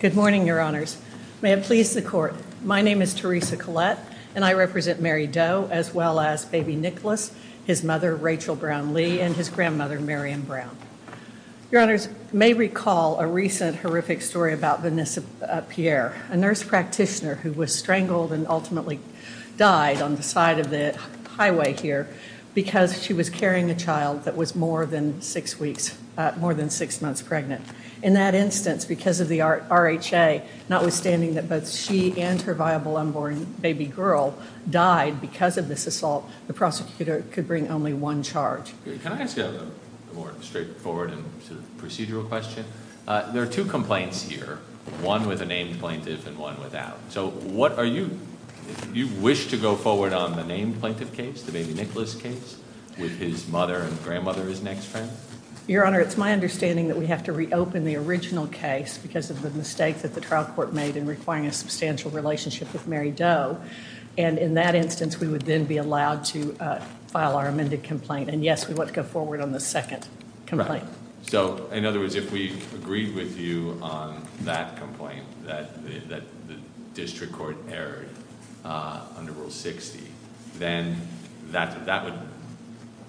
Good morning, your honors. May it please the court. My name is Teresa Collette, and I represent Mary Doe, as well as baby Nicholas, his mother, Rachel Brown Lee, and his grandmother, Marion Brown. Your honors may recall a recent horrific story about Vanessa Pierre, a nurse practitioner who was strangled and ultimately died on the side of the highway here because she was carrying a child that was more than six weeks, more than six months pregnant. In that instance, because of the RHA, notwithstanding that both she and her viable unborn baby girl died because of this assault, the prosecutor could bring only one charge. Can I ask a more straightforward and procedural question? There are two complaints here, one with a named plaintiff and one without. So what are you, you wish to go forward on the named plaintiff case, the baby Nicholas case, with his mother and grandmother, his next friend? Your honor, it's my understanding that we have to reopen the original case because of the mistake that the trial court made in requiring a substantial relationship with Mary Doe. And in that instance, we would then be allowed to file our amended complaint. And yes, we want to go forward on the second complaint. So in other words, if we agreed with you on that complaint, that the district court erred under Rule 60, then that would,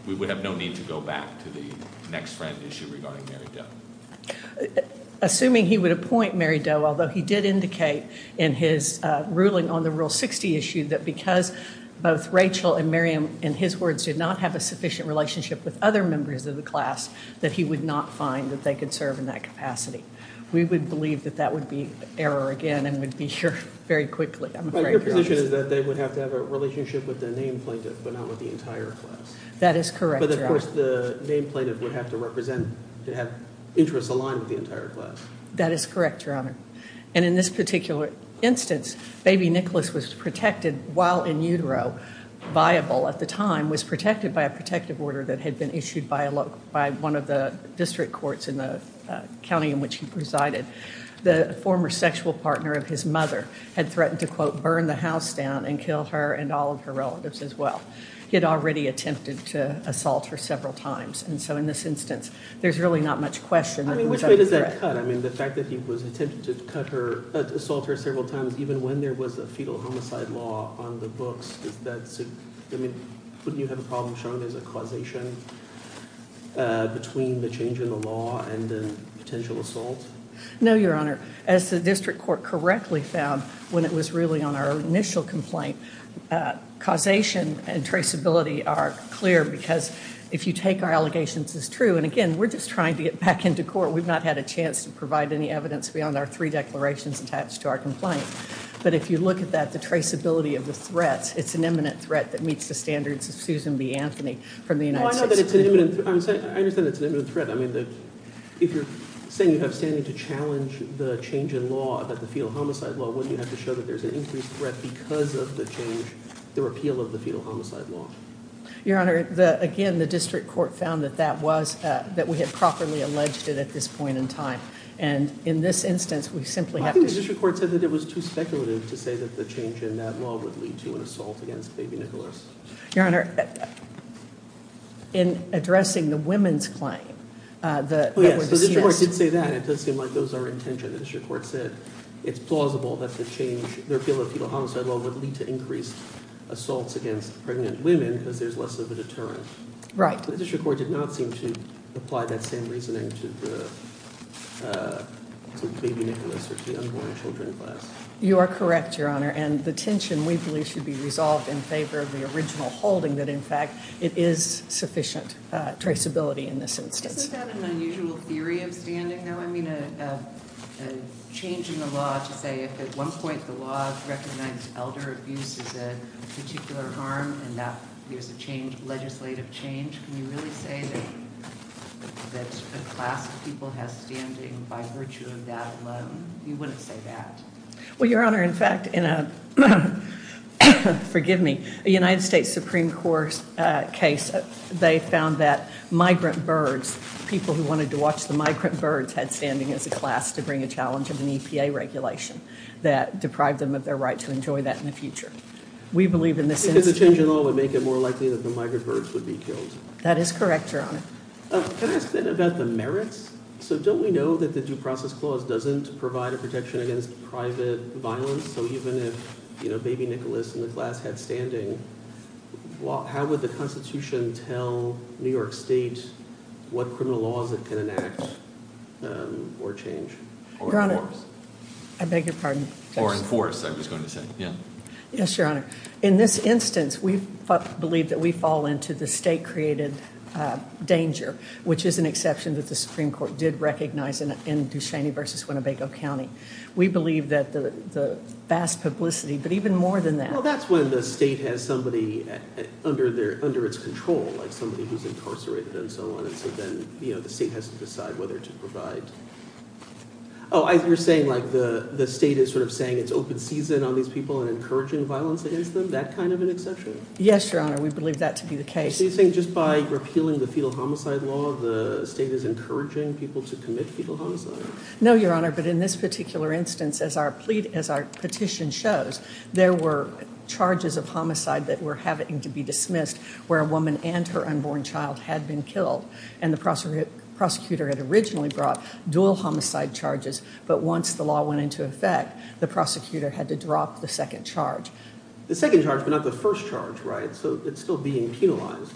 we would have no need to go back to the next friend issue regarding Mary Doe. Assuming he would appoint Mary Doe, although he did indicate in his ruling on the Rule 60 issue that because both Rachel and Miriam, in his words, did not have a sufficient relationship with other members of the class, that he would not find that they could serve in that capacity. We would believe that that would be error again and would be sure very quickly. Your position is that they would have to have a relationship with the named plaintiff, but not with the entire class. That is correct, your honor. But of course, the named plaintiff would have to represent, to have interests aligned with the entire class. That is correct, your honor. And in this particular instance, baby Nicholas was protected while in utero, viable at the time, was protected by a protective order that had been issued by one of the district courts in the county in which he presided. The former sexual partner of his mother had threatened to, quote, burn the house down and kill her and all of her relatives as well. He had already attempted to assault her several times, and so in this instance, there's really not much question. I mean, which way does that cut? I mean, the fact that he was attempting to cut her, assault her several times, even when there was a fetal homicide law on the books, does that, I mean, wouldn't you have a problem showing there's a causation between the change in the law and the potential assault? No, your honor. As the district court correctly found when it was really on our initial complaint, causation and traceability are clear because if you take our allegations as true, and again, we're just trying to get back into court. We've not had a chance to provide any evidence beyond our three declarations attached to our complaint. But if you look at that, the traceability of the threats, it's an imminent threat that meets the standards of Susan B. Anthony from the United States. Well, I know that it's an imminent threat. I understand that it's an imminent threat. I mean, if you're saying you have standing to challenge the change in law about the fetal homicide law, wouldn't you have to show that there's an increased threat because of the change, the repeal of the fetal homicide law? Your honor, again, the district court found that that was, that we had properly alleged And in this instance, we simply have to- The district court said that it was too speculative to say that the change in that law would lead to an assault against baby Nicholas. Your honor, in addressing the women's claim, the- Yes, the district court did say that. It does seem like those are intentions. The district court said it's plausible that the change, the repeal of the fetal homicide law would lead to increased assaults against pregnant women because there's less of a deterrent. Right. The district court did not seem to apply that same reasoning to baby Nicholas or to the unborn children class. You are correct, your honor. And the tension, we believe, should be resolved in favor of the original holding that, in fact, it is sufficient traceability in this instance. Isn't that an unusual theory of standing, though? I mean, a change in the law to say if at one point the law recognized elder abuse as a particular harm and that there's a change, legislative change, can you really say that a class of people has standing by virtue of that alone? You wouldn't say that. Well, your honor, in fact, in a, forgive me, a United States Supreme Court case, they found that migrant birds, people who wanted to watch the migrant birds had standing as a class to bring a challenge of an EPA regulation that deprived them of their right to enjoy that in the future. We believe in this instance. Because a change in law would make it more likely that the migrant birds would be killed. That is correct, your honor. Can I ask, then, about the merits? So don't we know that the due process clause doesn't provide a protection against private violence? So even if, you know, baby Nicholas and the class had standing, how would the Constitution tell New York State what criminal laws it can enact or change? Your honor, I beg your pardon. Or enforce, I was going to say. Yes, your honor. In this instance, we believe that we fall into the state-created danger, which is an exception that the Supreme Court did recognize in Ducheney v. Winnebago County. We believe that the vast publicity, but even more than that. Well, that's when the state has somebody under its control, like somebody who's incarcerated and so on. And so then, you know, the state has to decide whether to provide. Oh, you're saying, like, the state is sort of saying it's open season on these people and encouraging violence against them? That kind of an exception? Yes, your honor. We believe that to be the case. So you think just by repealing the fetal homicide law, the state is encouraging people to commit fetal homicide? No, your honor. But in this particular instance, as our petition shows, there were charges of homicide that were having to be dismissed where a woman and her unborn child had been killed. And the prosecutor had originally brought dual homicide charges. But once the law went into effect, the prosecutor had to drop the second charge. The second charge, but not the first charge, right? So it's still being penalized.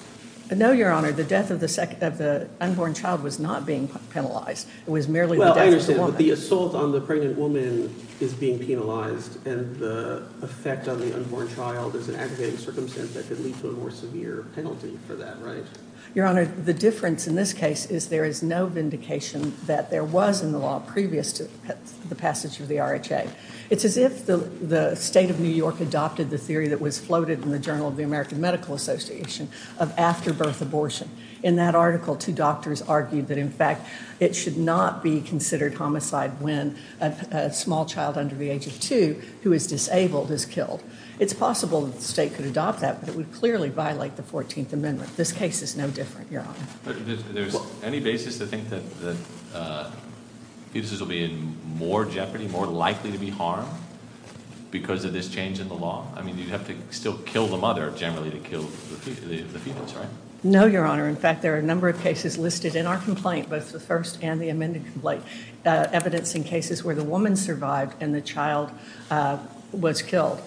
No, your honor. The death of the unborn child was not being penalized. It was merely the death of the woman. Well, I understand. But the assault on the pregnant woman is being penalized. And the effect on the unborn child is an aggravating circumstance that could lead to a more severe penalty for that, right? Your honor, the difference in this case is there is no vindication that there was in the law previous to the passage of the RHA. It's as if the state of New York adopted the theory that was floated in the Journal of the American Medical Association of afterbirth abortion. In that article, two doctors argued that, in fact, it should not be considered homicide when a small child under the age of two who is disabled is killed. It's possible that the state could adopt that, but it would clearly violate the 14th Amendment. This case is no different, your honor. There's any basis to think that fetuses will be in more jeopardy, more likely to be harmed, because of this change in the law? I mean, you'd have to still kill the mother generally to kill the fetus, right? No, your honor. In fact, there are a number of cases listed in our complaint, both the first and the amended complaint, evidencing cases where the woman survived and the child was killed.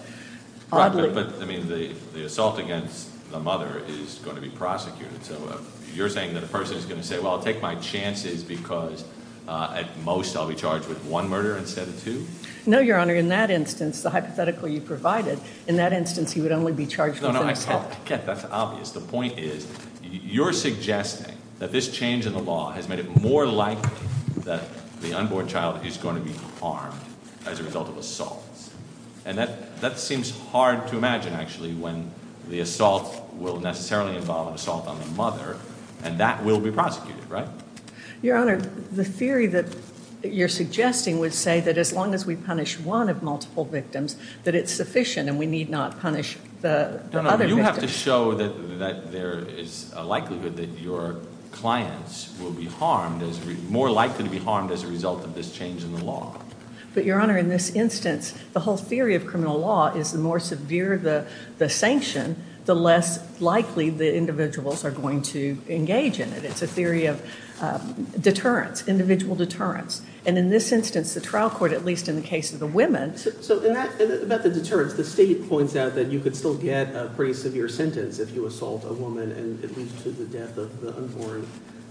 But, I mean, the assault against the mother is going to be prosecuted. So you're saying that a person is going to say, well, I'll take my chances because at most I'll be charged with one murder instead of two? No, your honor. In that instance, the hypothetical you provided, in that instance he would only be charged with No, no, I get that. That's obvious. The point is you're suggesting that this change in the law has made it more likely that the unborn child is going to be harmed as a result of assaults. And that seems hard to imagine, actually, when the assault will necessarily involve an assault on the mother, and that will be prosecuted, right? Your honor, the theory that you're suggesting would say that as long as we punish one of multiple victims, that it's sufficient and we need not punish the other victims. No, no. You have to show that there is a likelihood that your clients will be harmed, more likely to be harmed as a result of this change in the law. But your honor, in this instance, the whole theory of criminal law is the more severe the sanction, the less likely the individuals are going to engage in it. It's a theory of deterrence, individual deterrence. And in this instance, the trial court, at least in the case of the women So about the deterrence, the state points out that you could still get a pretty severe sentence if you assault a woman and it leads to the death of the unborn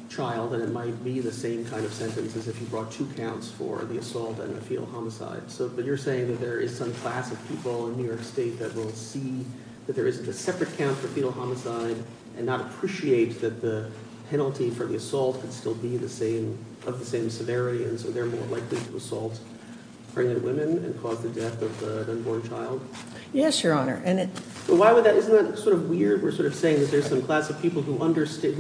child, and it might be the same kind of sentence as if you brought two counts for the assault and the fetal homicide. But you're saying that there is some class of people in New York State that will see that there isn't a separate count for fetal homicide and not appreciate that the penalty for the assault could still be of the same severity, and so they're more likely to assault pregnant women and cause the death of the unborn child? Yes, your honor. Isn't that sort of weird? We're sort of saying that there's some class of people who understand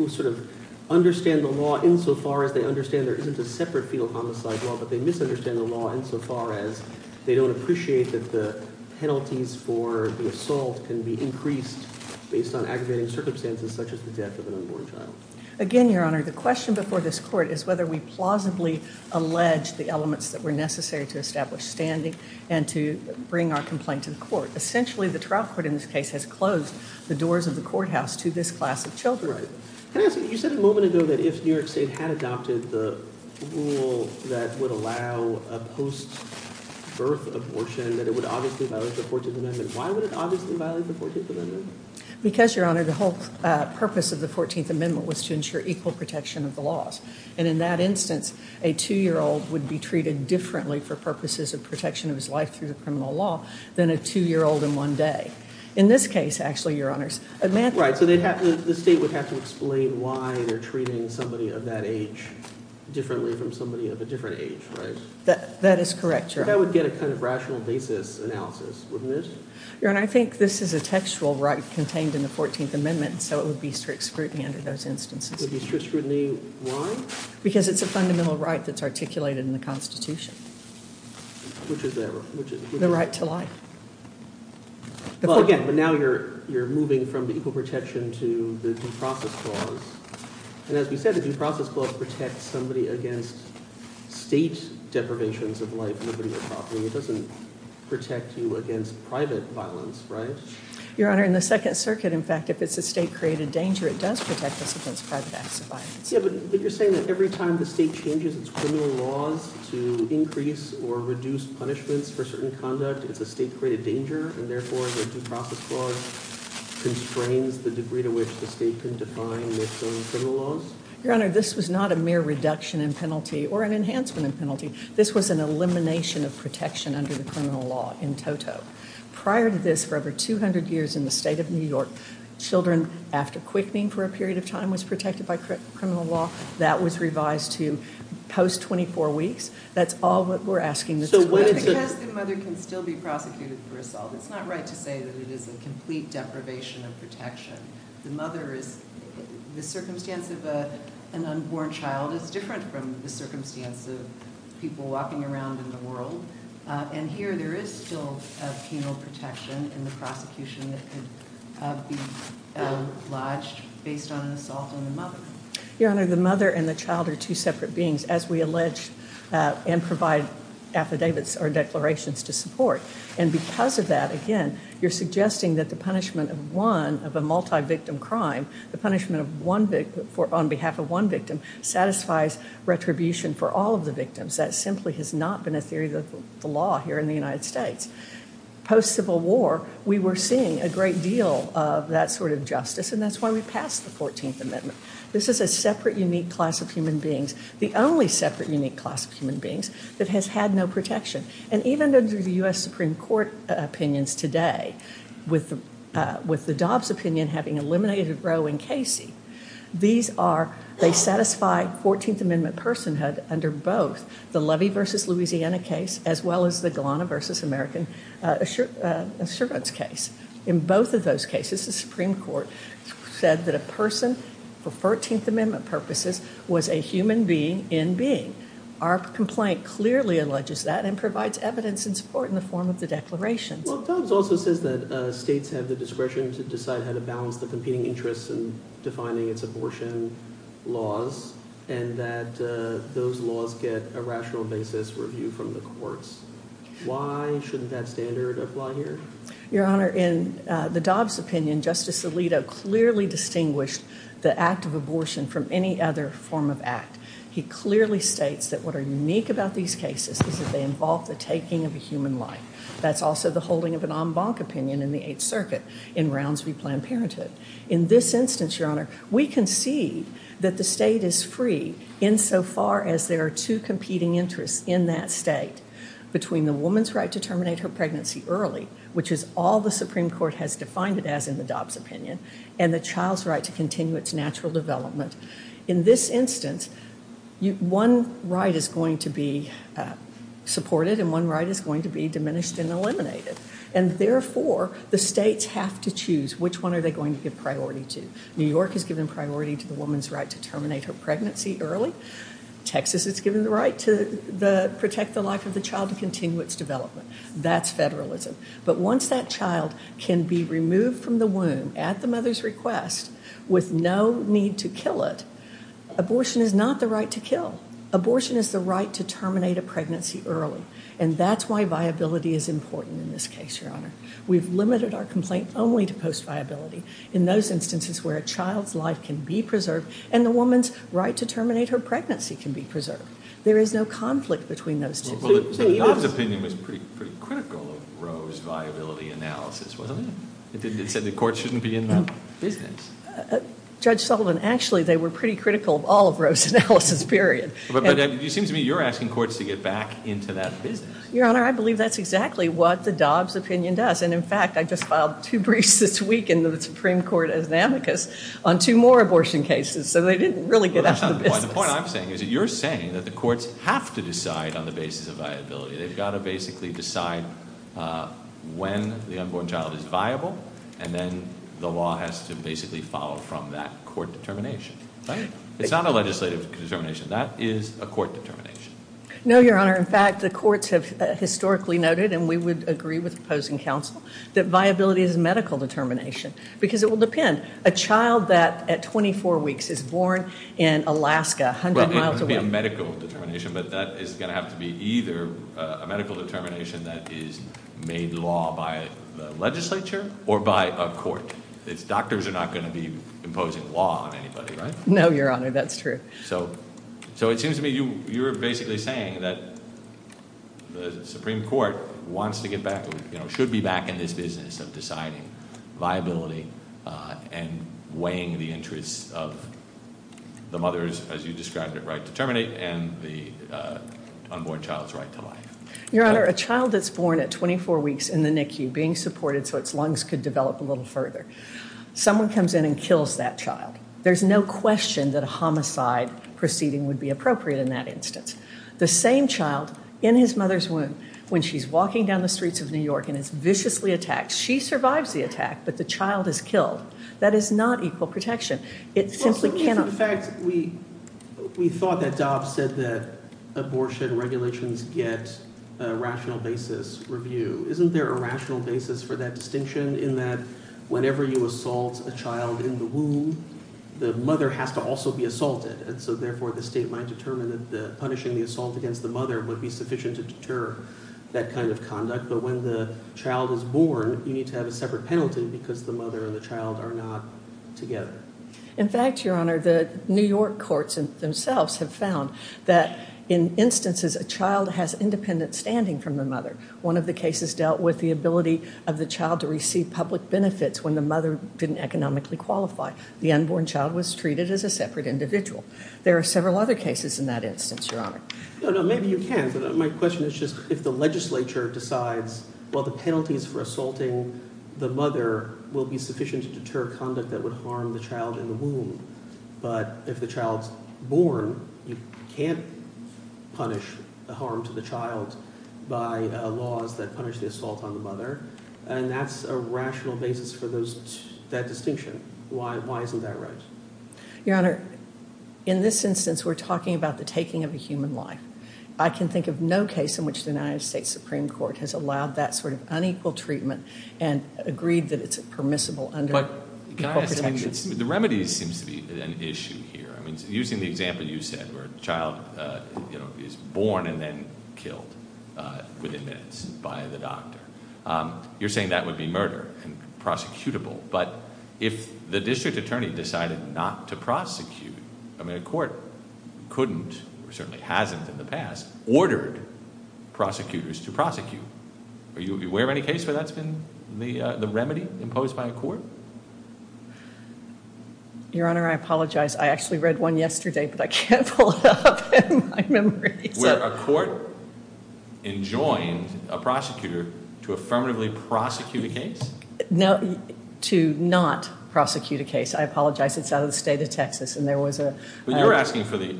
the law insofar as they understand there isn't a separate fetal homicide law, but they misunderstand the law insofar as they don't appreciate that the penalties for the assault can be increased based on aggravating circumstances such as the death of an unborn child. Again, your honor, the question before this court is whether we plausibly allege the elements that were necessary to establish standing and to bring our complaint to the court. Essentially, the trial court in this case has closed the doors of the courthouse to this class of children. Right. Can I ask you, you said a moment ago that if New York State had adopted the rule that would allow a post-birth abortion, that it would obviously violate the 14th Amendment. Why would it obviously violate the 14th Amendment? Because, your honor, the whole purpose of the 14th Amendment was to ensure equal protection of the laws, and in that instance, a two-year-old would be treated differently for purposes of protection of his life through the criminal law than a two-year-old in one day. In this case, actually, your honors, a man… Right, so the state would have to explain why they're treating somebody of that age differently from somebody of a different age, right? That is correct, your honor. That would get a kind of rational basis analysis, wouldn't it? Your honor, I think this is a textual right contained in the 14th Amendment, so it would be strict scrutiny under those instances. It would be strict scrutiny, why? Because it's a fundamental right that's articulated in the Constitution. Which is what? The right to life. Well, again, but now you're moving from the equal protection to the due process clause. And as we said, the due process clause protects somebody against state deprivations of life, liberty, or property. It doesn't protect you against private violence, right? Your honor, in the Second Circuit, in fact, if it's a state-created danger, it does protect us against private acts of violence. Yeah, but you're saying that every time the state changes its criminal laws to increase or reduce punishments for certain conduct, it's a state-created danger, and therefore the due process clause constrains the degree to which the state can define its own criminal laws? Your honor, this was not a mere reduction in penalty or an enhancement in penalty. This was an elimination of protection under the criminal law in toto. Prior to this, for over 200 years in the state of New York, children, after quickening for a period of time, was protected by criminal law. That was revised to post-24 weeks. That's all that we're asking this court to do. But because the mother can still be prosecuted for assault, it's not right to say that it is a complete deprivation of protection. The circumstance of an unborn child is different from the circumstance of people walking around in the world. And here, there is still a penal protection in the prosecution that could be lodged based on an assault on the mother. Your honor, the mother and the child are two separate beings. As we allege and provide affidavits or declarations to support. And because of that, again, you're suggesting that the punishment of one of a multi-victim crime, the punishment on behalf of one victim, satisfies retribution for all of the victims. That simply has not been a theory of the law here in the United States. Post-Civil War, we were seeing a great deal of that sort of justice, and that's why we passed the 14th Amendment. This is a separate, unique class of human beings. The only separate, unique class of human beings that has had no protection. And even under the U.S. Supreme Court opinions today, with the Dobbs opinion having eliminated Roe and Casey, these are, they satisfy 14th Amendment personhood under both the Levy v. Louisiana case, as well as the Galana v. American Assurance case. In both of those cases, the Supreme Court said that a person, for 14th Amendment purposes, was a human being in being. Our complaint clearly alleges that and provides evidence in support in the form of the declarations. Well, Dobbs also says that states have the discretion to decide how to balance the competing interests in defining its abortion laws, and that those laws get a rational basis review from the courts. Why shouldn't that standard apply here? Your Honor, in the Dobbs opinion, Justice Alito clearly distinguished the act of abortion from any other form of act. He clearly states that what are unique about these cases is that they involve the taking of a human life. That's also the holding of an en banc opinion in the Eighth Circuit in Rounds v. Planned Parenthood. In this instance, Your Honor, we can see that the state is free insofar as there are two competing interests in that state, between the woman's right to terminate her pregnancy early, which is all the Supreme Court has defined it as in the Dobbs opinion, and the In this instance, one right is going to be supported and one right is going to be diminished and eliminated. And therefore, the states have to choose which one are they going to give priority to. New York has given priority to the woman's right to terminate her pregnancy early. Texas has given the right to protect the life of the child and continue its development. That's federalism. But once that child can be removed from the womb at the mother's request with no need to kill it, abortion is not the right to kill. Abortion is the right to terminate a pregnancy early. And that's why viability is important in this case, Your Honor. We've limited our complaint only to post-viability. In those instances where a child's life can be preserved and the woman's right to terminate her pregnancy can be preserved. There is no conflict between those two. Well, the Dobbs opinion was pretty critical of Roe's viability analysis, wasn't it? It said the court shouldn't be in that business. Judge Sullivan, actually, they were pretty critical of all of Roe's analysis, period. But it seems to me you're asking courts to get back into that business. Your Honor, I believe that's exactly what the Dobbs opinion does. And, in fact, I just filed two briefs this week in the Supreme Court as an amicus on two more abortion cases. So they didn't really get out of the business. The point I'm saying is that you're saying that the courts have to decide on the basis of viability. They've got to basically decide when the unborn child is viable. And then the law has to basically follow from that court determination. Right? It's not a legislative determination. That is a court determination. No, Your Honor. In fact, the courts have historically noted, and we would agree with opposing counsel, that viability is a medical determination. Because it will depend. A child that at 24 weeks is born in Alaska, 100 miles away. It would be a medical determination, but that is going to have to be either a medical determination that is made law by the legislature or by a court. Doctors are not going to be imposing law on anybody, right? No, Your Honor. That's true. So it seems to me you're basically saying that the Supreme Court wants to get back, should be back in this business of deciding viability and weighing the interests of the mother's, as you described it, right to terminate and the unborn child's right to life. Your Honor, a child that's born at 24 weeks in the NICU being supported so its lungs could develop a little further. Someone comes in and kills that child. There's no question that a homicide proceeding would be appropriate in that instance. The same child in his mother's womb, when she's walking down the streets of New York and is viciously attacked, she survives the attack, but the child is killed. That is not equal protection. It simply cannot. We thought that Dobbs said that abortion regulations get a rational basis review. Isn't there a rational basis for that distinction in that whenever you assault a child in the womb, the mother has to also be assaulted, and so therefore the state might determine that punishing the assault against the mother would be sufficient to deter that kind of conduct. But when the child is born, you need to have a separate penalty because the mother and the child are not together. In fact, Your Honor, the New York courts themselves have found that in instances a child has independent standing from the mother. One of the cases dealt with the ability of the child to receive public benefits when the mother didn't economically qualify. The unborn child was treated as a separate individual. There are several other cases in that instance, Your Honor. No, no, maybe you can, but my question is just if the legislature decides, well, the penalties for assaulting the mother will be sufficient to deter conduct that would harm the child in the womb, but if the child is born, you can't punish the harm to the child by laws that punish the assault on the mother, and that's a rational basis for that distinction. Why isn't that right? Your Honor, in this instance, we're talking about the taking of a human life. I can think of no case in which the United States Supreme Court has allowed that sort of unequal treatment and agreed that it's permissible under equal protections. But the remedy seems to be an issue here. I mean, using the example you said where a child is born and then killed within minutes by the doctor, you're saying that would be murder and prosecutable. But if the district attorney decided not to prosecute, I mean, a court couldn't or certainly hasn't in the past ordered prosecutors to prosecute. Are you aware of any case where that's been the remedy imposed by a court? Your Honor, I apologize. I actually read one yesterday, but I can't pull it up in my memory. Where a court enjoined a prosecutor to affirmatively prosecute a case? To not prosecute a case. I apologize. It's out of the state of Texas, and there was a- But you're asking for the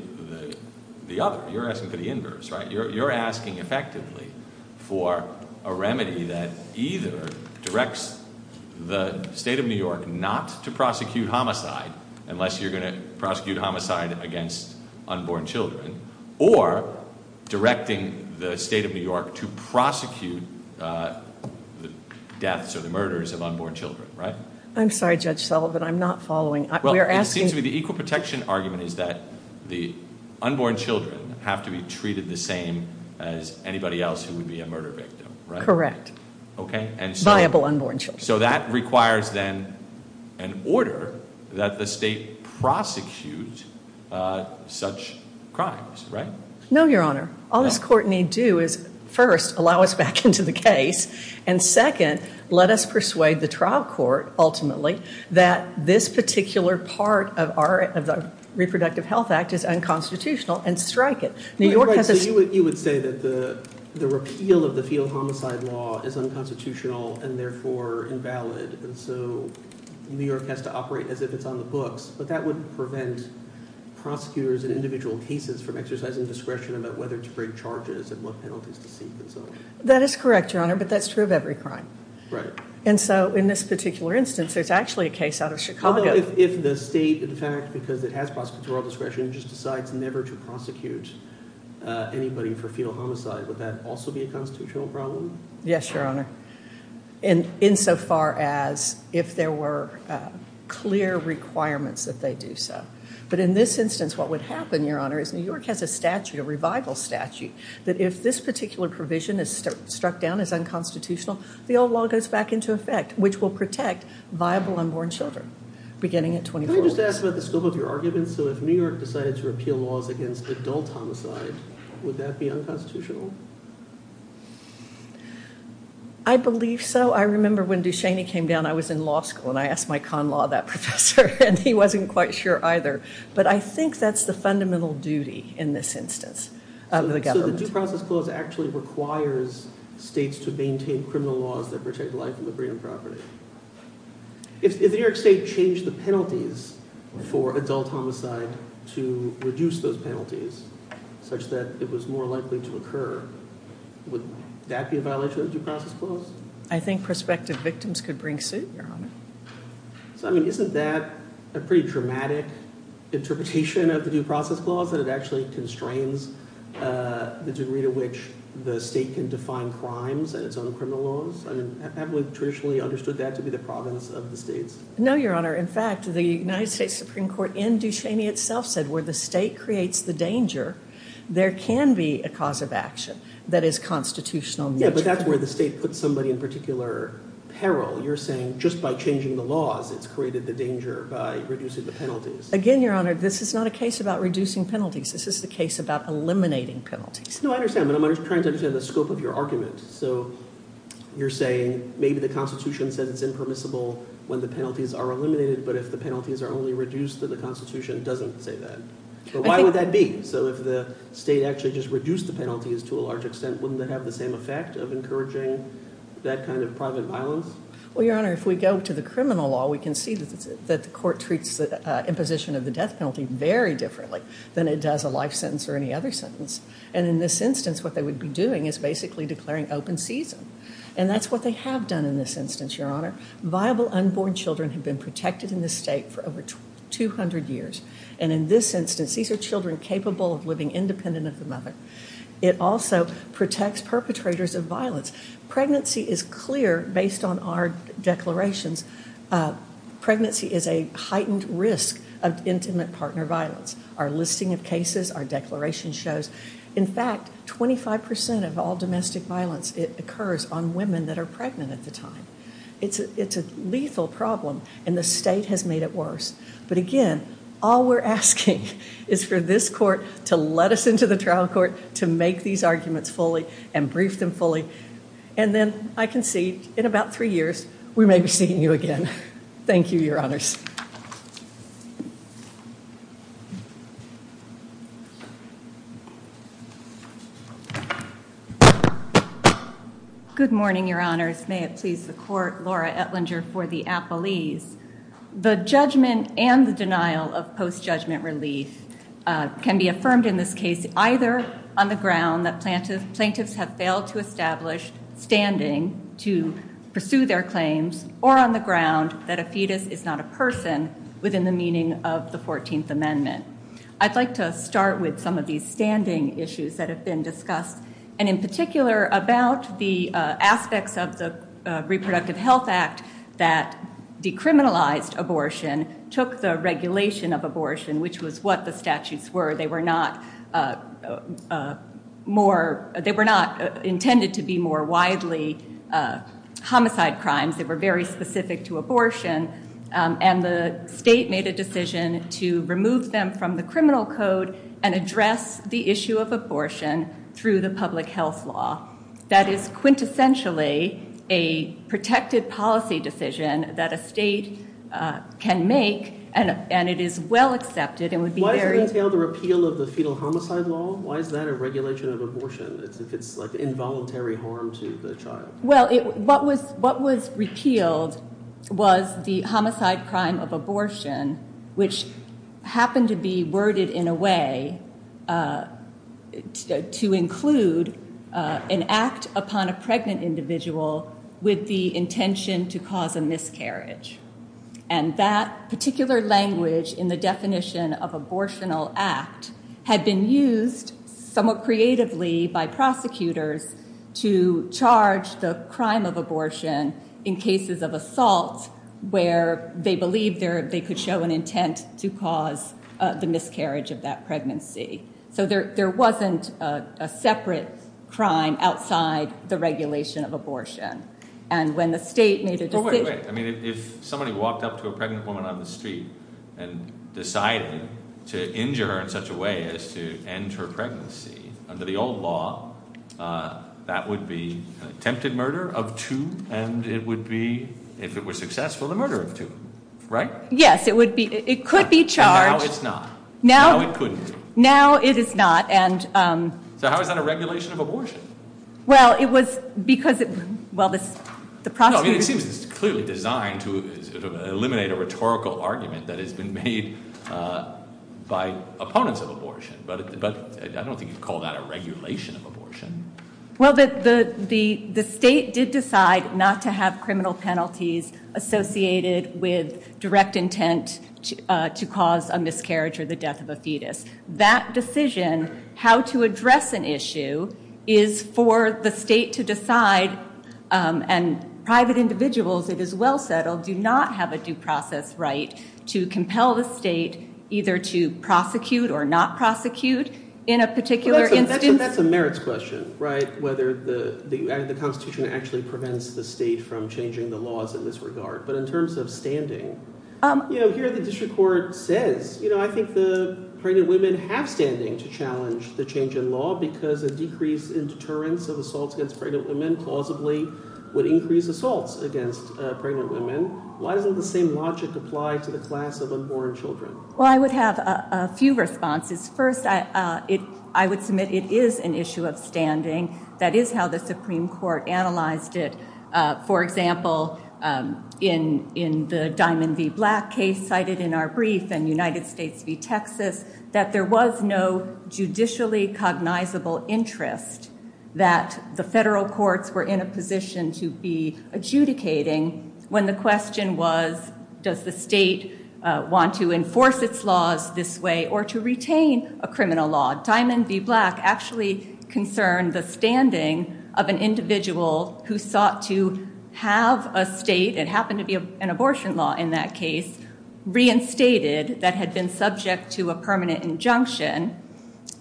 other. You're asking for the inverse, right? You're asking effectively for a remedy that either directs the state of New York not to prosecute homicide, unless you're going to prosecute homicide against unborn children, or directing the state of New York to prosecute the deaths or the murders of unborn children, right? I'm sorry, Judge Sullivan. I'm not following. Well, it seems to me the equal protection argument is that the unborn children have to be treated the same as anybody else who would be a murder victim, right? Correct. Okay, and so- Viable unborn children. So that requires then an order that the state prosecute such crimes, right? No, Your Honor. All this court need do is, first, allow us back into the case, and, second, let us persuade the trial court, ultimately, that this particular part of the Reproductive Health Act is unconstitutional and strike it. New York has a- Right, so you would say that the repeal of the field homicide law is unconstitutional and, therefore, invalid, and so New York has to operate as if it's on the books, but that would prevent prosecutors in individual cases from exercising discretion about whether to bring charges and what penalties to seek and so on. That is correct, Your Honor, but that's true of every crime. Right. And so in this particular instance, there's actually a case out of Chicago- Well, if the state, in fact, because it has prosecutorial discretion, just decides never to prosecute anybody for fetal homicide, would that also be a constitutional problem? Yes, Your Honor. Insofar as if there were clear requirements that they do so. But in this instance, what would happen, Your Honor, is New York has a statute, a revival statute, that if this particular provision is struck down as unconstitutional, the old law goes back into effect, which will protect viable unborn children beginning at 24. Can I just ask about the scope of your argument? So if New York decided to repeal laws against adult homicide, would that be unconstitutional? I believe so. I remember when Ducheney came down, I was in law school and I asked my con law that professor, and he wasn't quite sure either. But I think that's the fundamental duty in this instance of the government. So the Due Process Clause actually requires states to maintain criminal laws that protect life and liberty and property. If New York State changed the penalties for adult homicide to reduce those penalties such that it was more likely to occur, would that be a violation of the Due Process Clause? I think prospective victims could bring suit, Your Honor. So, I mean, isn't that a pretty dramatic interpretation of the Due Process Clause, that it actually constrains the degree to which the state can define crimes and its own criminal laws? I mean, haven't we traditionally understood that to be the province of the states? No, Your Honor. In fact, the United States Supreme Court in Ducheney itself said where the state creates the danger, there can be a cause of action that is constitutional. Yeah, but that's where the state puts somebody in particular peril. You're saying just by changing the laws, it's created the danger by reducing the penalties. Again, Your Honor, this is not a case about reducing penalties. This is the case about eliminating penalties. No, I understand, but I'm trying to understand the scope of your argument. So you're saying maybe the Constitution says it's impermissible when the penalties are eliminated, but if the penalties are only reduced, then the Constitution doesn't say that. But why would that be? So if the state actually just reduced the penalties to a large extent, wouldn't that have the same effect of encouraging that kind of private violence? Well, Your Honor, if we go to the criminal law, we can see that the court treats the imposition of the death penalty very differently than it does a life sentence or any other sentence. And in this instance, what they would be doing is basically declaring open season, and that's what they have done in this instance, Your Honor. Viable unborn children have been protected in this state for over 200 years, and in this instance, these are children capable of living independent of the mother. It also protects perpetrators of violence. Pregnancy is clear based on our declarations. Pregnancy is a heightened risk of intimate partner violence. Our listing of cases, our declaration shows. In fact, 25% of all domestic violence occurs on women that are pregnant at the time. It's a lethal problem, and the state has made it worse. But, again, all we're asking is for this court to let us into the trial court to make these arguments fully and brief them fully, and then I can see in about three years we may be seeing you again. Thank you, Your Honors. Good morning, Your Honors. May it please the court, Laura Etlinger for the appellees. The judgment and the denial of post-judgment relief can be affirmed in this case either on the ground that plaintiffs have failed to establish standing to pursue their claims or on the ground that a fetus is not a person within the meaning of the 14th Amendment. I'd like to start with some of these standing issues that have been discussed and in particular about the aspects of the Reproductive Health Act that decriminalized abortion, took the regulation of abortion, which was what the statutes were. They were not intended to be more widely homicide crimes. They were very specific to abortion, and the state made a decision to remove them from the criminal code and address the issue of abortion through the public health law. That is quintessentially a protected policy decision that a state can make, and it is well accepted and would be very- Why does it entail the repeal of the fetal homicide law? Why is that a regulation of abortion if it's like involuntary harm to the child? Well, what was repealed was the homicide crime of abortion, which happened to be worded in a way to include an act upon a pregnant individual with the intention to cause a miscarriage, and that particular language in the definition of abortional act had been used somewhat creatively by prosecutors to charge the crime of abortion in cases of assault where they believed they could show an intent to cause the miscarriage of that pregnancy. So there wasn't a separate crime outside the regulation of abortion, and when the state made a decision- Well, wait, wait. I mean, if somebody walked up to a pregnant woman on the street and decided to injure her in such a way as to end her pregnancy, under the old law, that would be attempted murder of two, and it would be, if it was successful, the murder of two, right? Yes, it would be. It could be charged- And now it's not. Now it couldn't be. Now it is not, and- So how is that a regulation of abortion? Well, it was because it- Well, this- No, I mean, it seems it's clearly designed to eliminate a rhetorical argument that has been made by opponents of abortion, but I don't think you'd call that a regulation of abortion. Well, the state did decide not to have criminal penalties associated with direct intent to cause a miscarriage or the death of a fetus. That decision, how to address an issue, is for the state to decide, and private individuals, it is well settled, do not have a due process right to compel the state either to prosecute or not prosecute in a particular instance. That's a merits question, right, whether the Constitution actually prevents the state from changing the laws in this regard. But in terms of standing, here the district court says, I think the pregnant women have standing to challenge the change in law because a decrease in deterrence of assaults against pregnant women plausibly would increase assaults against pregnant women. Why doesn't the same logic apply to the class of unborn children? Well, I would have a few responses. First, I would submit it is an issue of standing. That is how the Supreme Court analyzed it. For example, in the Diamond v. Black case cited in our brief and United States v. Texas, that there was no judicially cognizable interest that the federal courts were in a position to be adjudicating when the question was does the state want to enforce its laws this way or to retain a criminal law. Diamond v. Black actually concerned the standing of an individual who sought to have a state, it happened to be an abortion law in that case, reinstated that had been subject to a permanent injunction.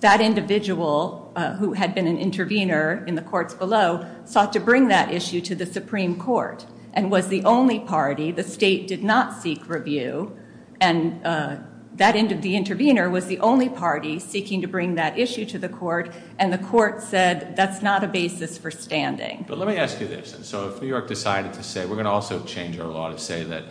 That individual who had been an intervener in the courts below sought to bring that issue to the Supreme Court and was the only party, the state did not seek review, and that intervener was the only party seeking to bring that issue to the court and the court said that's not a basis for standing. But let me ask you this. So if New York decided to say we're going to also change our law to say that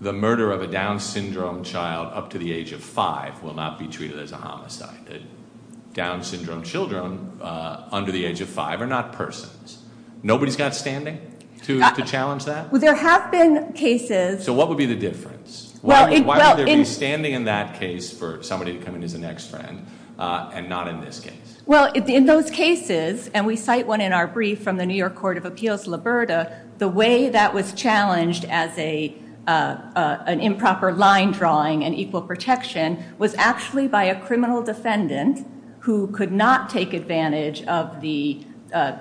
the murder of a Down syndrome child up to the age of five will not be treated as a homicide. The Down syndrome children under the age of five are not persons. Nobody's got standing to challenge that? Well, there have been cases. So what would be the difference? Why would there be standing in that case for somebody to come in as a next friend and not in this case? Well, in those cases, and we cite one in our brief from the New York Court of Appeals, Liberta, the way that was challenged as an improper line drawing and equal protection was actually by a criminal defendant who could not take advantage of the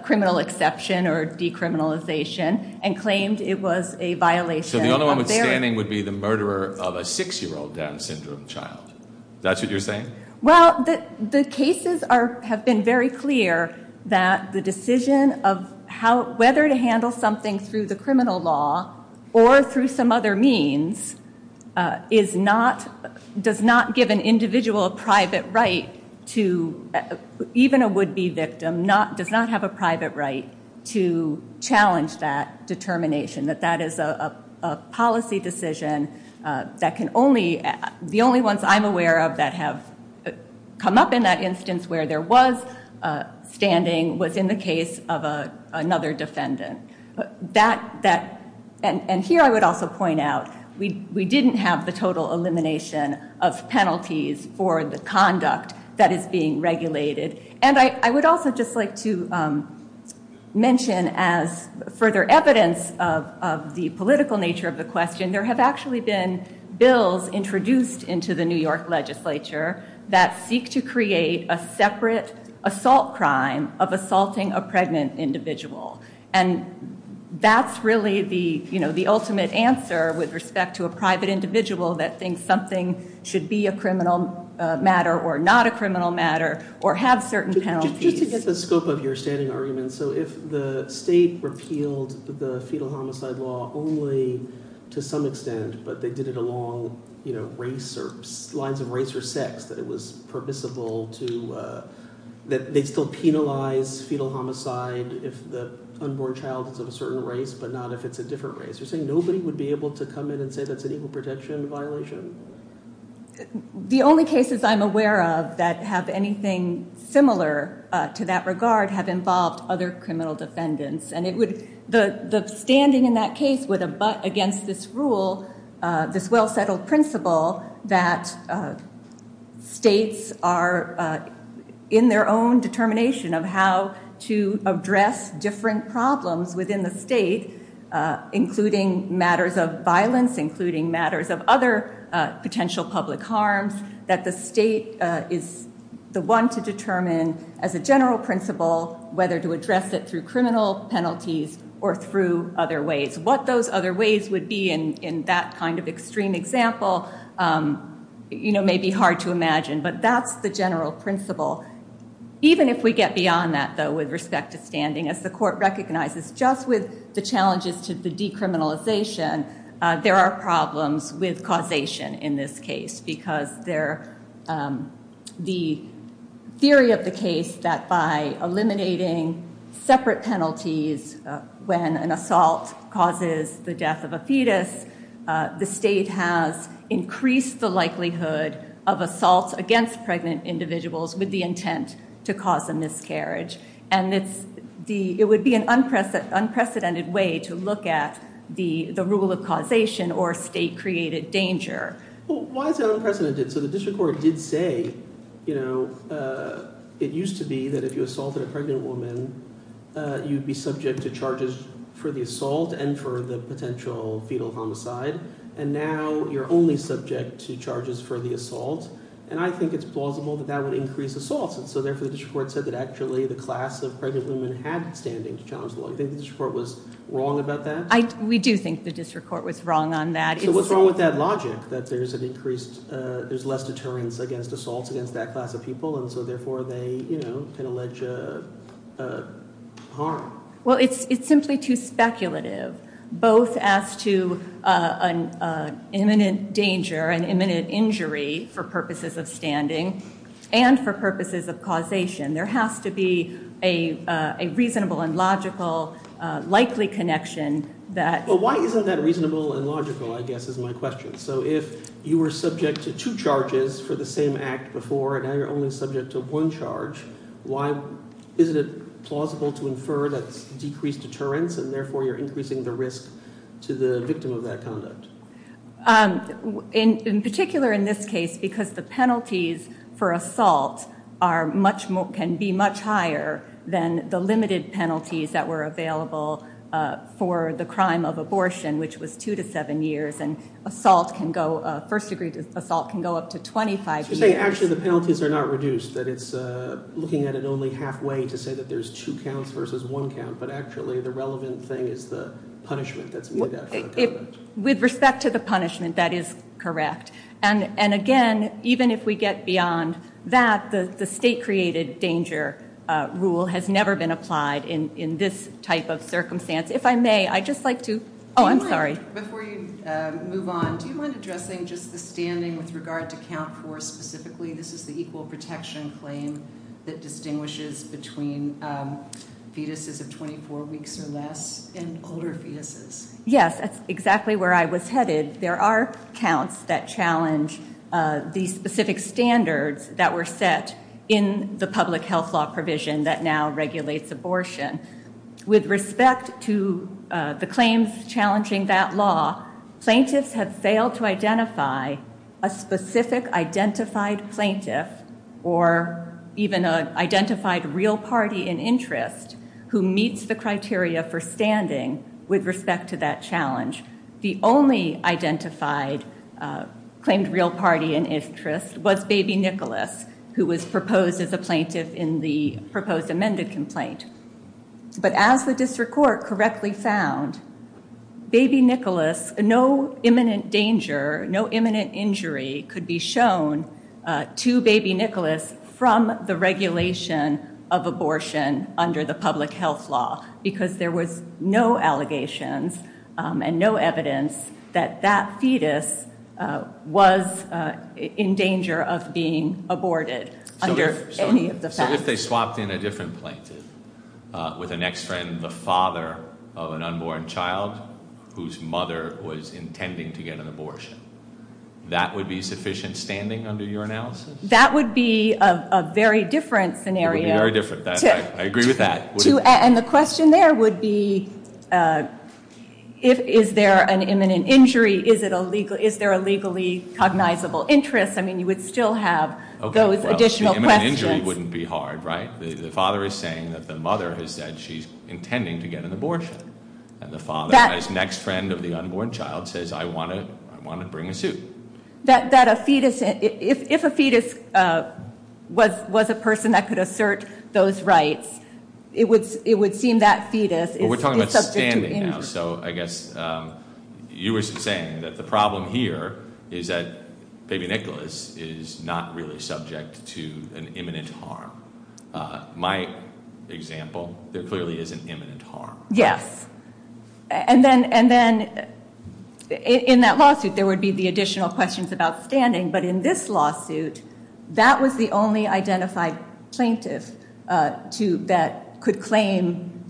criminal exception or decriminalization and claimed it was a violation. So the only one with standing would be the murderer of a six-year-old Down syndrome child. Is that what you're saying? Well, the cases have been very clear that the decision of whether to handle something through the criminal law or through some other means does not give an individual a private right to, even a would-be victim, does not have a private right to challenge that determination, that that is a policy decision that can only, the only ones I'm aware of that have come up in that instance where there was standing was in the case of another defendant. And here I would also point out we didn't have the total elimination of penalties for the conduct that is being regulated. And I would also just like to mention as further evidence of the political nature of the question, there have actually been bills introduced into the New York legislature that seek to create a separate assault crime of assaulting a pregnant individual. And that's really the ultimate answer with respect to a private individual that thinks something should be a criminal matter or not a criminal matter or have certain penalties. Just to get the scope of your standing argument, so if the state repealed the fetal homicide law only to some extent, but they did it along race or lines of race or sex that it was permissible to, that they still penalize fetal homicide if the unborn child is of a certain race but not if it's a different race, you're saying nobody would be able to come in and say that's an evil protection violation? The only cases I'm aware of that have anything similar to that regard have involved other criminal defendants. The standing in that case would abut against this rule, this well-settled principle, that states are in their own determination of how to address different problems within the state, including matters of violence, including matters of other potential public harms, that the state is the one to determine as a general principle whether to address it through criminal penalties or through other ways. What those other ways would be in that kind of extreme example may be hard to imagine, but that's the general principle. Even if we get beyond that, though, with respect to standing, as the court recognizes just with the challenges to the decriminalization, there are problems with causation in this case because the theory of the case that by eliminating separate penalties when an assault causes the death of a fetus, the state has increased the likelihood of assaults against pregnant individuals with the intent to cause a miscarriage. It would be an unprecedented way to look at the rule of causation or state-created danger. Why is that unprecedented? So the district court did say it used to be that if you assaulted a pregnant woman, you'd be subject to charges for the assault and for the potential fetal homicide, and now you're only subject to charges for the assault, and I think it's plausible that that would increase assaults, and so therefore the district court said that actually the class of pregnant women had standing to challenge the law. Do you think the district court was wrong about that? We do think the district court was wrong on that. So what's wrong with that logic that there's an increased – there's less deterrence against assaults against that class of people, and so therefore they can allege harm? Well, it's simply too speculative both as to an imminent danger, an imminent injury for purposes of standing and for purposes of causation. There has to be a reasonable and logical likely connection that – Well, why isn't that reasonable and logical, I guess, is my question. So if you were subject to two charges for the same act before and now you're only subject to one charge, isn't it plausible to infer that it's decreased deterrence and therefore you're increasing the risk to the victim of that conduct? In particular in this case because the penalties for assault can be much higher than the limited penalties that were available for the crime of abortion, which was two to seven years, and assault can go – first-degree assault can go up to 25 years. So you're saying actually the penalties are not reduced, that it's looking at it only halfway to say that there's two counts versus one count, but actually the relevant thing is the punishment that's meted out for the conduct. With respect to the punishment, that is correct. And, again, even if we get beyond that, the state-created danger rule has never been applied in this type of circumstance. If I may, I'd just like to – oh, I'm sorry. Before you move on, do you mind addressing just the standing with regard to count four specifically? This is the equal protection claim that distinguishes between fetuses of 24 weeks or less and older fetuses. Yes, that's exactly where I was headed. There are counts that challenge the specific standards that were set in the public health law provision that now regulates abortion. With respect to the claims challenging that law, plaintiffs have failed to identify a specific identified plaintiff or even an identified real party in interest who meets the criteria for standing with respect to that challenge. The only identified claimed real party in interest was Baby Nicholas, who was proposed as a plaintiff in the proposed amended complaint. But as the district court correctly found, Baby Nicholas, no imminent danger, no imminent injury could be shown to Baby Nicholas from the regulation of abortion under the public health law because there was no allegations and no evidence that that fetus was in danger of being aborted under any of the facts. So if they swapped in a different plaintiff with a next friend, the father of an unborn child whose mother was intending to get an abortion, that would be sufficient standing under your analysis? That would be a very different scenario. It would be very different. I agree with that. And the question there would be, is there an imminent injury? Is there a legally cognizable interest? I mean, you would still have those additional questions. Okay, well, the imminent injury wouldn't be hard, right? The father is saying that the mother has said she's intending to get an abortion. And the father, his next friend of the unborn child, says, I want to bring a suit. That a fetus, if a fetus was a person that could assert those rights, it would seem that fetus is subject to injury. We're talking about standing now, so I guess you were saying that the problem here is that Baby Nicholas is not really subject to an imminent harm. My example, there clearly is an imminent harm. Yes. And then in that lawsuit, there would be the additional questions about standing. But in this lawsuit, that was the only identified plaintiff that could claim,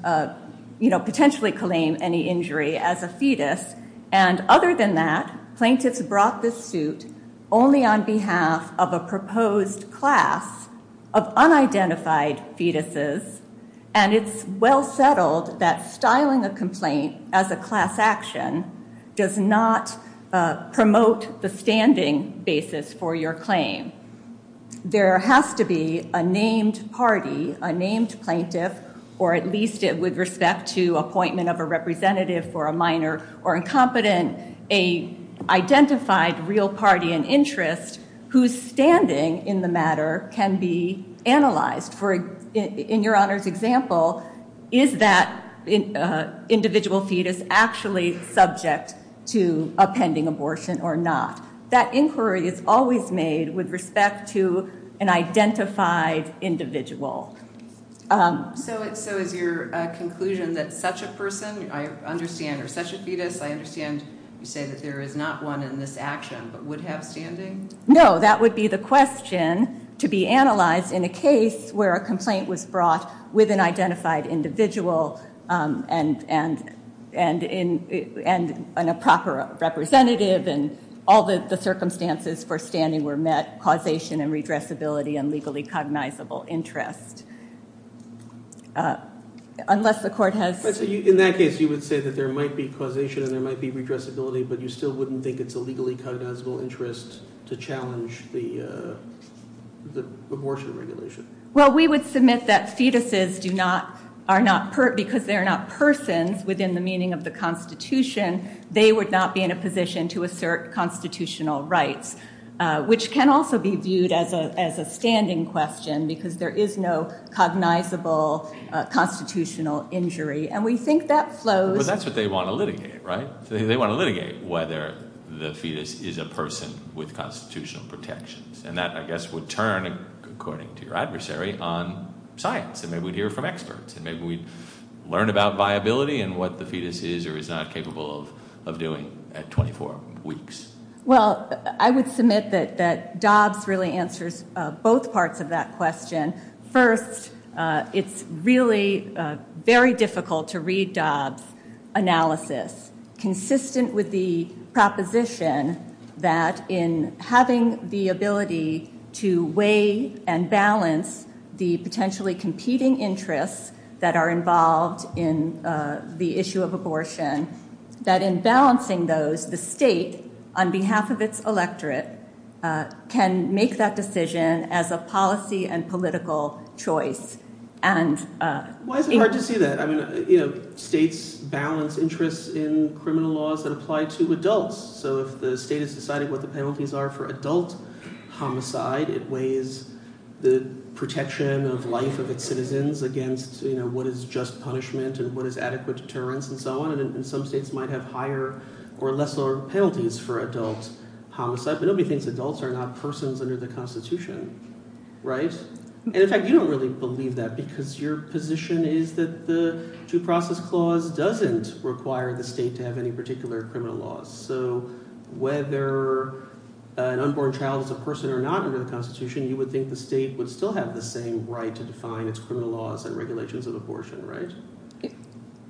you know, potentially claim any injury as a fetus. And other than that, plaintiffs brought this suit only on behalf of a proposed class of unidentified fetuses. And it's well settled that styling a complaint as a class action does not promote the standing basis for your claim. There has to be a named party, a named plaintiff, or at least with respect to appointment of a representative for a minor or incompetent, an identified real party in interest whose standing in the matter can be analyzed. In Your Honor's example, is that individual fetus actually subject to a pending abortion or not? That inquiry is always made with respect to an identified individual. So is your conclusion that such a person, I understand, or such a fetus, I understand you say that there is not one in this action but would have standing? No. That would be the question to be analyzed in a case where a complaint was brought with an identified individual and a proper representative and all the circumstances for standing were met, causation and redressability and legally cognizable interest. Unless the court has... In that case, you would say that there might be causation and there might be redressability, but you still wouldn't think it's a legally cognizable interest to challenge the abortion regulation? Well, we would submit that fetuses do not, because they are not persons within the meaning of the Constitution, they would not be in a position to assert constitutional rights, which can also be viewed as a standing question because there is no cognizable constitutional injury. And we think that flows... Well, that's what they want to litigate, right? They want to litigate whether the fetus is a person with constitutional protections, and that, I guess, would turn, according to your adversary, on science, and maybe we'd hear from experts and maybe we'd learn about viability and what the fetus is or is not capable of doing at 24 weeks. Well, I would submit that Dobbs really answers both parts of that question. First, it's really very difficult to read Dobbs' analysis consistent with the proposition that in having the ability to weigh and balance the potentially competing interests that are involved in the issue of abortion, that in balancing those, the state, on behalf of its electorate, can make that decision as a policy and political choice. Why is it hard to see that? States balance interests in criminal laws that apply to adults, so if the state is deciding what the penalties are for adult homicide, it weighs the protection of life of its citizens against what is just punishment and what is adequate deterrence and so on, and some states might have higher or less lower penalties for adult homicide, but nobody thinks adults are not persons under the Constitution, right? And, in fact, you don't really believe that because your position is that the Due Process Clause doesn't require the state to have any particular criminal laws. So whether an unborn child is a person or not under the Constitution, you would think the state would still have the same right to define its criminal laws and regulations of abortion, right?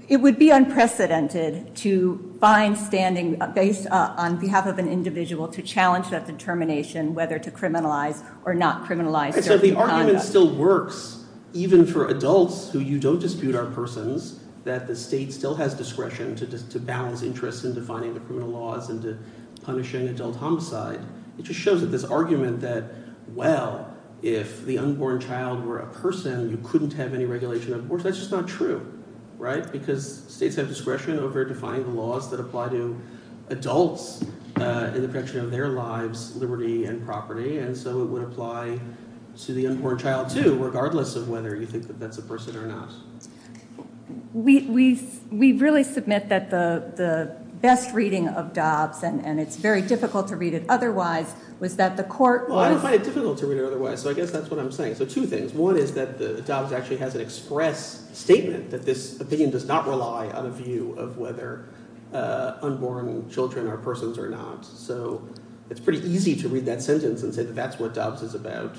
It would be unprecedented to find standing based on behalf of an individual to challenge that determination whether to criminalize or not criminalize certain conduct. So the argument still works even for adults who you don't dispute are persons, that the state still has discretion to balance interests in defining the criminal laws and punishing adult homicide. It just shows that this argument that, well, if the unborn child were a person, you couldn't have any regulation of abortion, that's just not true, right? Because states have discretion over defining the laws that apply to adults in the protection of their lives, liberty, and property, and so it would apply to the unborn child, too, regardless of whether you think that that's a person or not. We really submit that the best reading of Dobbs, and it's very difficult to read it otherwise, was that the court was— Well, I don't find it difficult to read it otherwise, so I guess that's what I'm saying. So two things. One is that Dobbs actually has an express statement that this opinion does not rely on a view of whether unborn children are persons or not, so it's pretty easy to read that sentence and say that that's what Dobbs is about.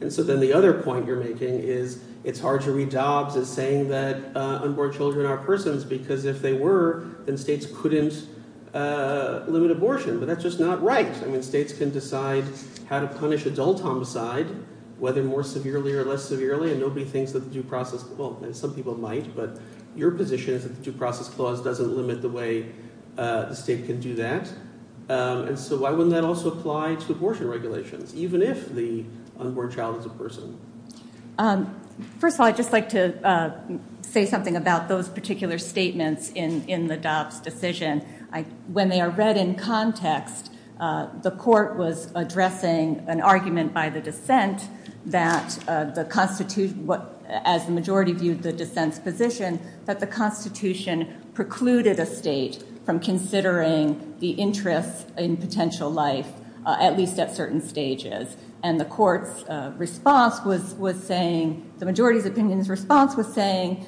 And so then the other point you're making is it's hard to read Dobbs as saying that unborn children are persons because if they were, then states couldn't limit abortion, but that's just not right. I mean states can decide how to punish adult homicide, whether more severely or less severely, and nobody thinks that the due process— well, some people might, but your position is that the due process clause doesn't limit the way the state can do that. And so why wouldn't that also apply to abortion regulations, even if the unborn child is a person? First of all, I'd just like to say something about those particular statements in the Dobbs decision. When they are read in context, the court was addressing an argument by the dissent that the Constitution—as the majority viewed the dissent's position, that the Constitution precluded a state from considering the interest in potential life, at least at certain stages. And the court's response was saying—the majority's opinion's response was saying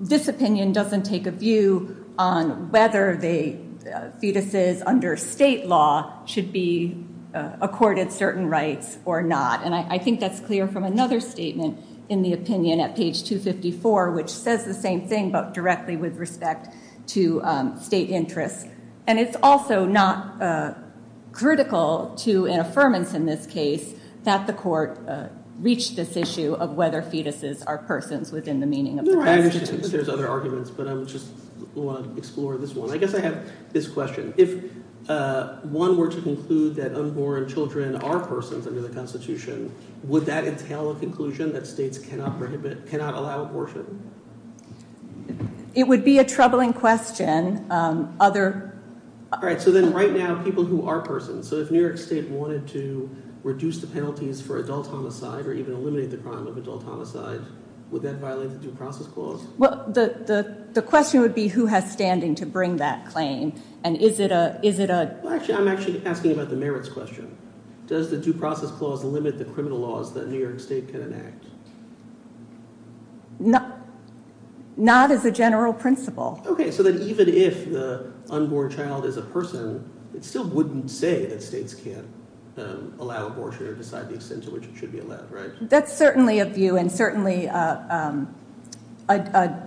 this opinion doesn't take a view on whether fetuses under state law should be accorded certain rights or not. And I think that's clear from another statement in the opinion at page 254, which says the same thing, but directly with respect to state interests. And it's also not critical to an affirmance in this case that the court reached this issue of whether fetuses are persons within the meaning of the Constitution. There's other arguments, but I just want to explore this one. I guess I have this question. If one were to conclude that unborn children are persons under the Constitution, would that entail a conclusion that states cannot allow abortion? It would be a troubling question. All right, so then right now, people who are persons. So if New York State wanted to reduce the penalties for adult homicide or even eliminate the crime of adult homicide, would that violate the due process clause? I'm actually asking about the merits question. Does the due process clause limit the criminal laws that New York State can enact? Not as a general principle. Okay, so then even if the unborn child is a person, it still wouldn't say that states can't allow abortion or decide the extent to which it should be allowed, right? That's certainly a view and certainly a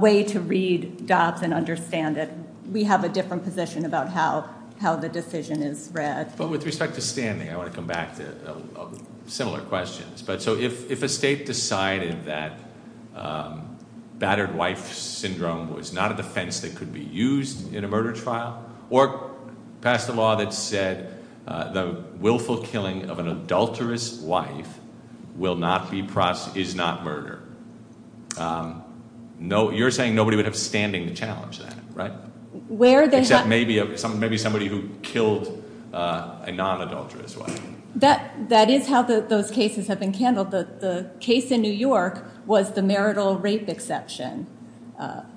way to read Dobbs and understand it. We have a different position about how the decision is read. But with respect to standing, I want to come back to similar questions. So if a state decided that battered wife syndrome was not a defense that could be used in a murder trial or passed a law that said the willful killing of an adulterous wife is not murder, you're saying nobody would have standing to challenge that, right? Except maybe somebody who killed a non-adulterous wife. That is how those cases have been handled. The case in New York was the marital rape exception,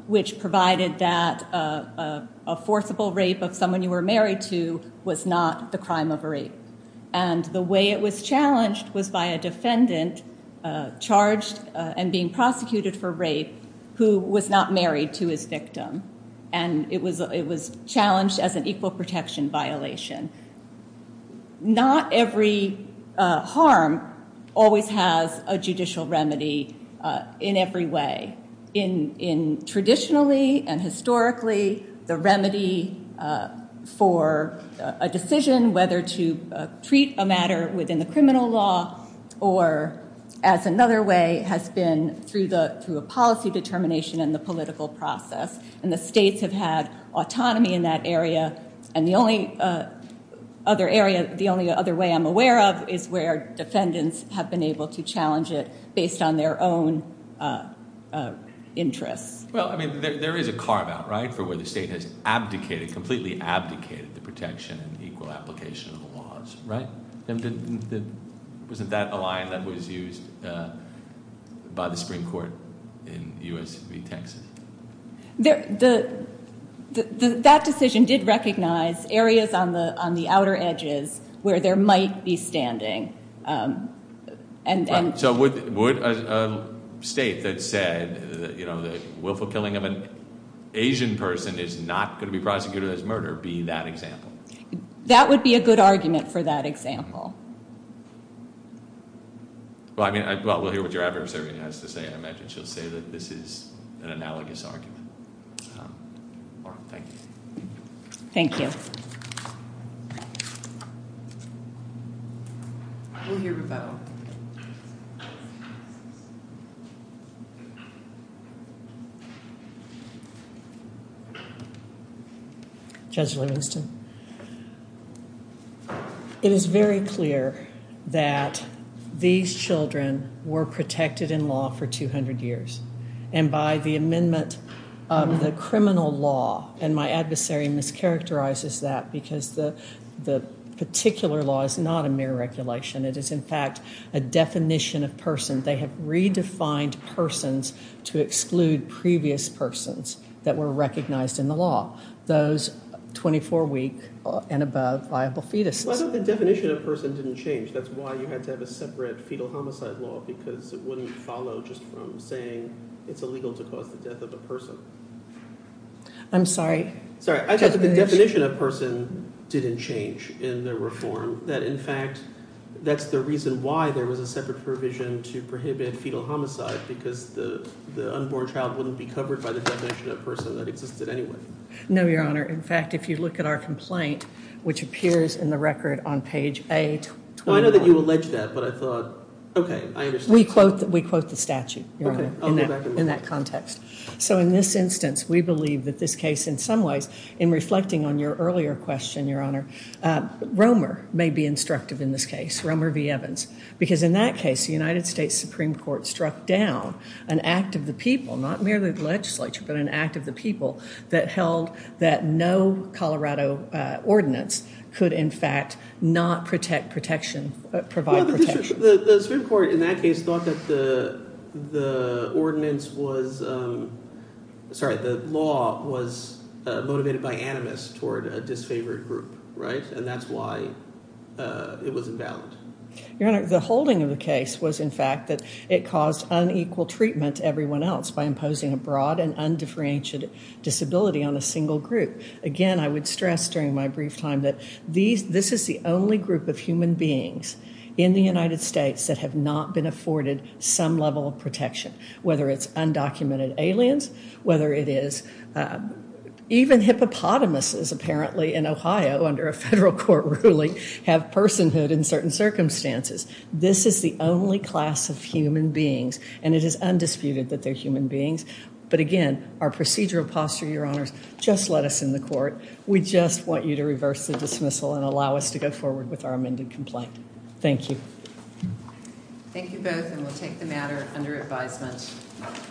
which provided that a forcible rape of someone you were married to was not the crime of rape. And the way it was challenged was by a defendant charged and being prosecuted for rape who was not married to his victim. And it was challenged as an equal protection violation. Not every harm always has a judicial remedy in every way. Traditionally and historically, the remedy for a decision, whether to treat a matter within the criminal law or as another way, has been through a policy determination and the political process. And the states have had autonomy in that area. And the only other way I'm aware of is where defendants have been able to challenge it based on their own interests. Well, I mean, there is a carve-out, right, for where the state has abdicated, completely abdicated the protection and equal application of the laws, right? Wasn't that a line that was used by the Supreme Court in U.S. v. Texas? That decision did recognize areas on the outer edges where there might be standing. So would a state that said, you know, the willful killing of an Asian person is not going to be prosecuted as murder be that example? That would be a good argument for that example. Well, I mean, we'll hear what your adversary has to say. I imagine she'll say that this is an analogous argument. Thank you. Thank you. We'll hear rebuttal. Judge Livingston. It is very clear that these children were protected in law for 200 years. And by the amendment of the criminal law, and my adversary mischaracterizes that because the particular law is not a mere regulation. It is, in fact, a definition of person. They have redefined persons to exclude previous persons that were recognized in the law, those 24 week and above liable fetuses. I thought the definition of person didn't change. That's why you had to have a separate fetal homicide law, because it wouldn't follow just from saying it's illegal to cause the death of a person. I'm sorry. Sorry. I thought the definition of person didn't change in the reform. That, in fact, that's the reason why there was a separate provision to prohibit fetal homicide, because the unborn child wouldn't be covered by the definition of person that existed anyway. No, Your Honor. In fact, if you look at our complaint, which appears in the record on page A. I know that you allege that, but I thought, okay, I understand. We quote the statute, Your Honor, in that context. So in this instance, we believe that this case, in some ways, in reflecting on your earlier question, Your Honor, Romer may be instructive in this case, Romer v. Evans, because in that case, the United States Supreme Court struck down an act of the people, not merely the legislature, but an act of the people, that held that no Colorado ordinance could, in fact, not provide protection. The Supreme Court, in that case, thought that the ordinance was – sorry, the law was motivated by animus toward a disfavored group, right? And that's why it was invalid. Your Honor, the holding of the case was, in fact, that it caused unequal treatment to everyone else by imposing a broad and undifferentiated disability on a single group. Again, I would stress during my brief time that this is the only group of human beings in the United States that have not been afforded some level of protection, whether it's undocumented aliens, whether it is – even hippopotamuses, apparently, in Ohio, under a federal court ruling, have personhood in certain circumstances. This is the only class of human beings, and it is undisputed that they're human beings. But again, our procedural posture, Your Honors, just let us in the court. We just want you to reverse the dismissal and allow us to go forward with our amended complaint. Thank you. Thank you both, and we'll take the matter under advisement.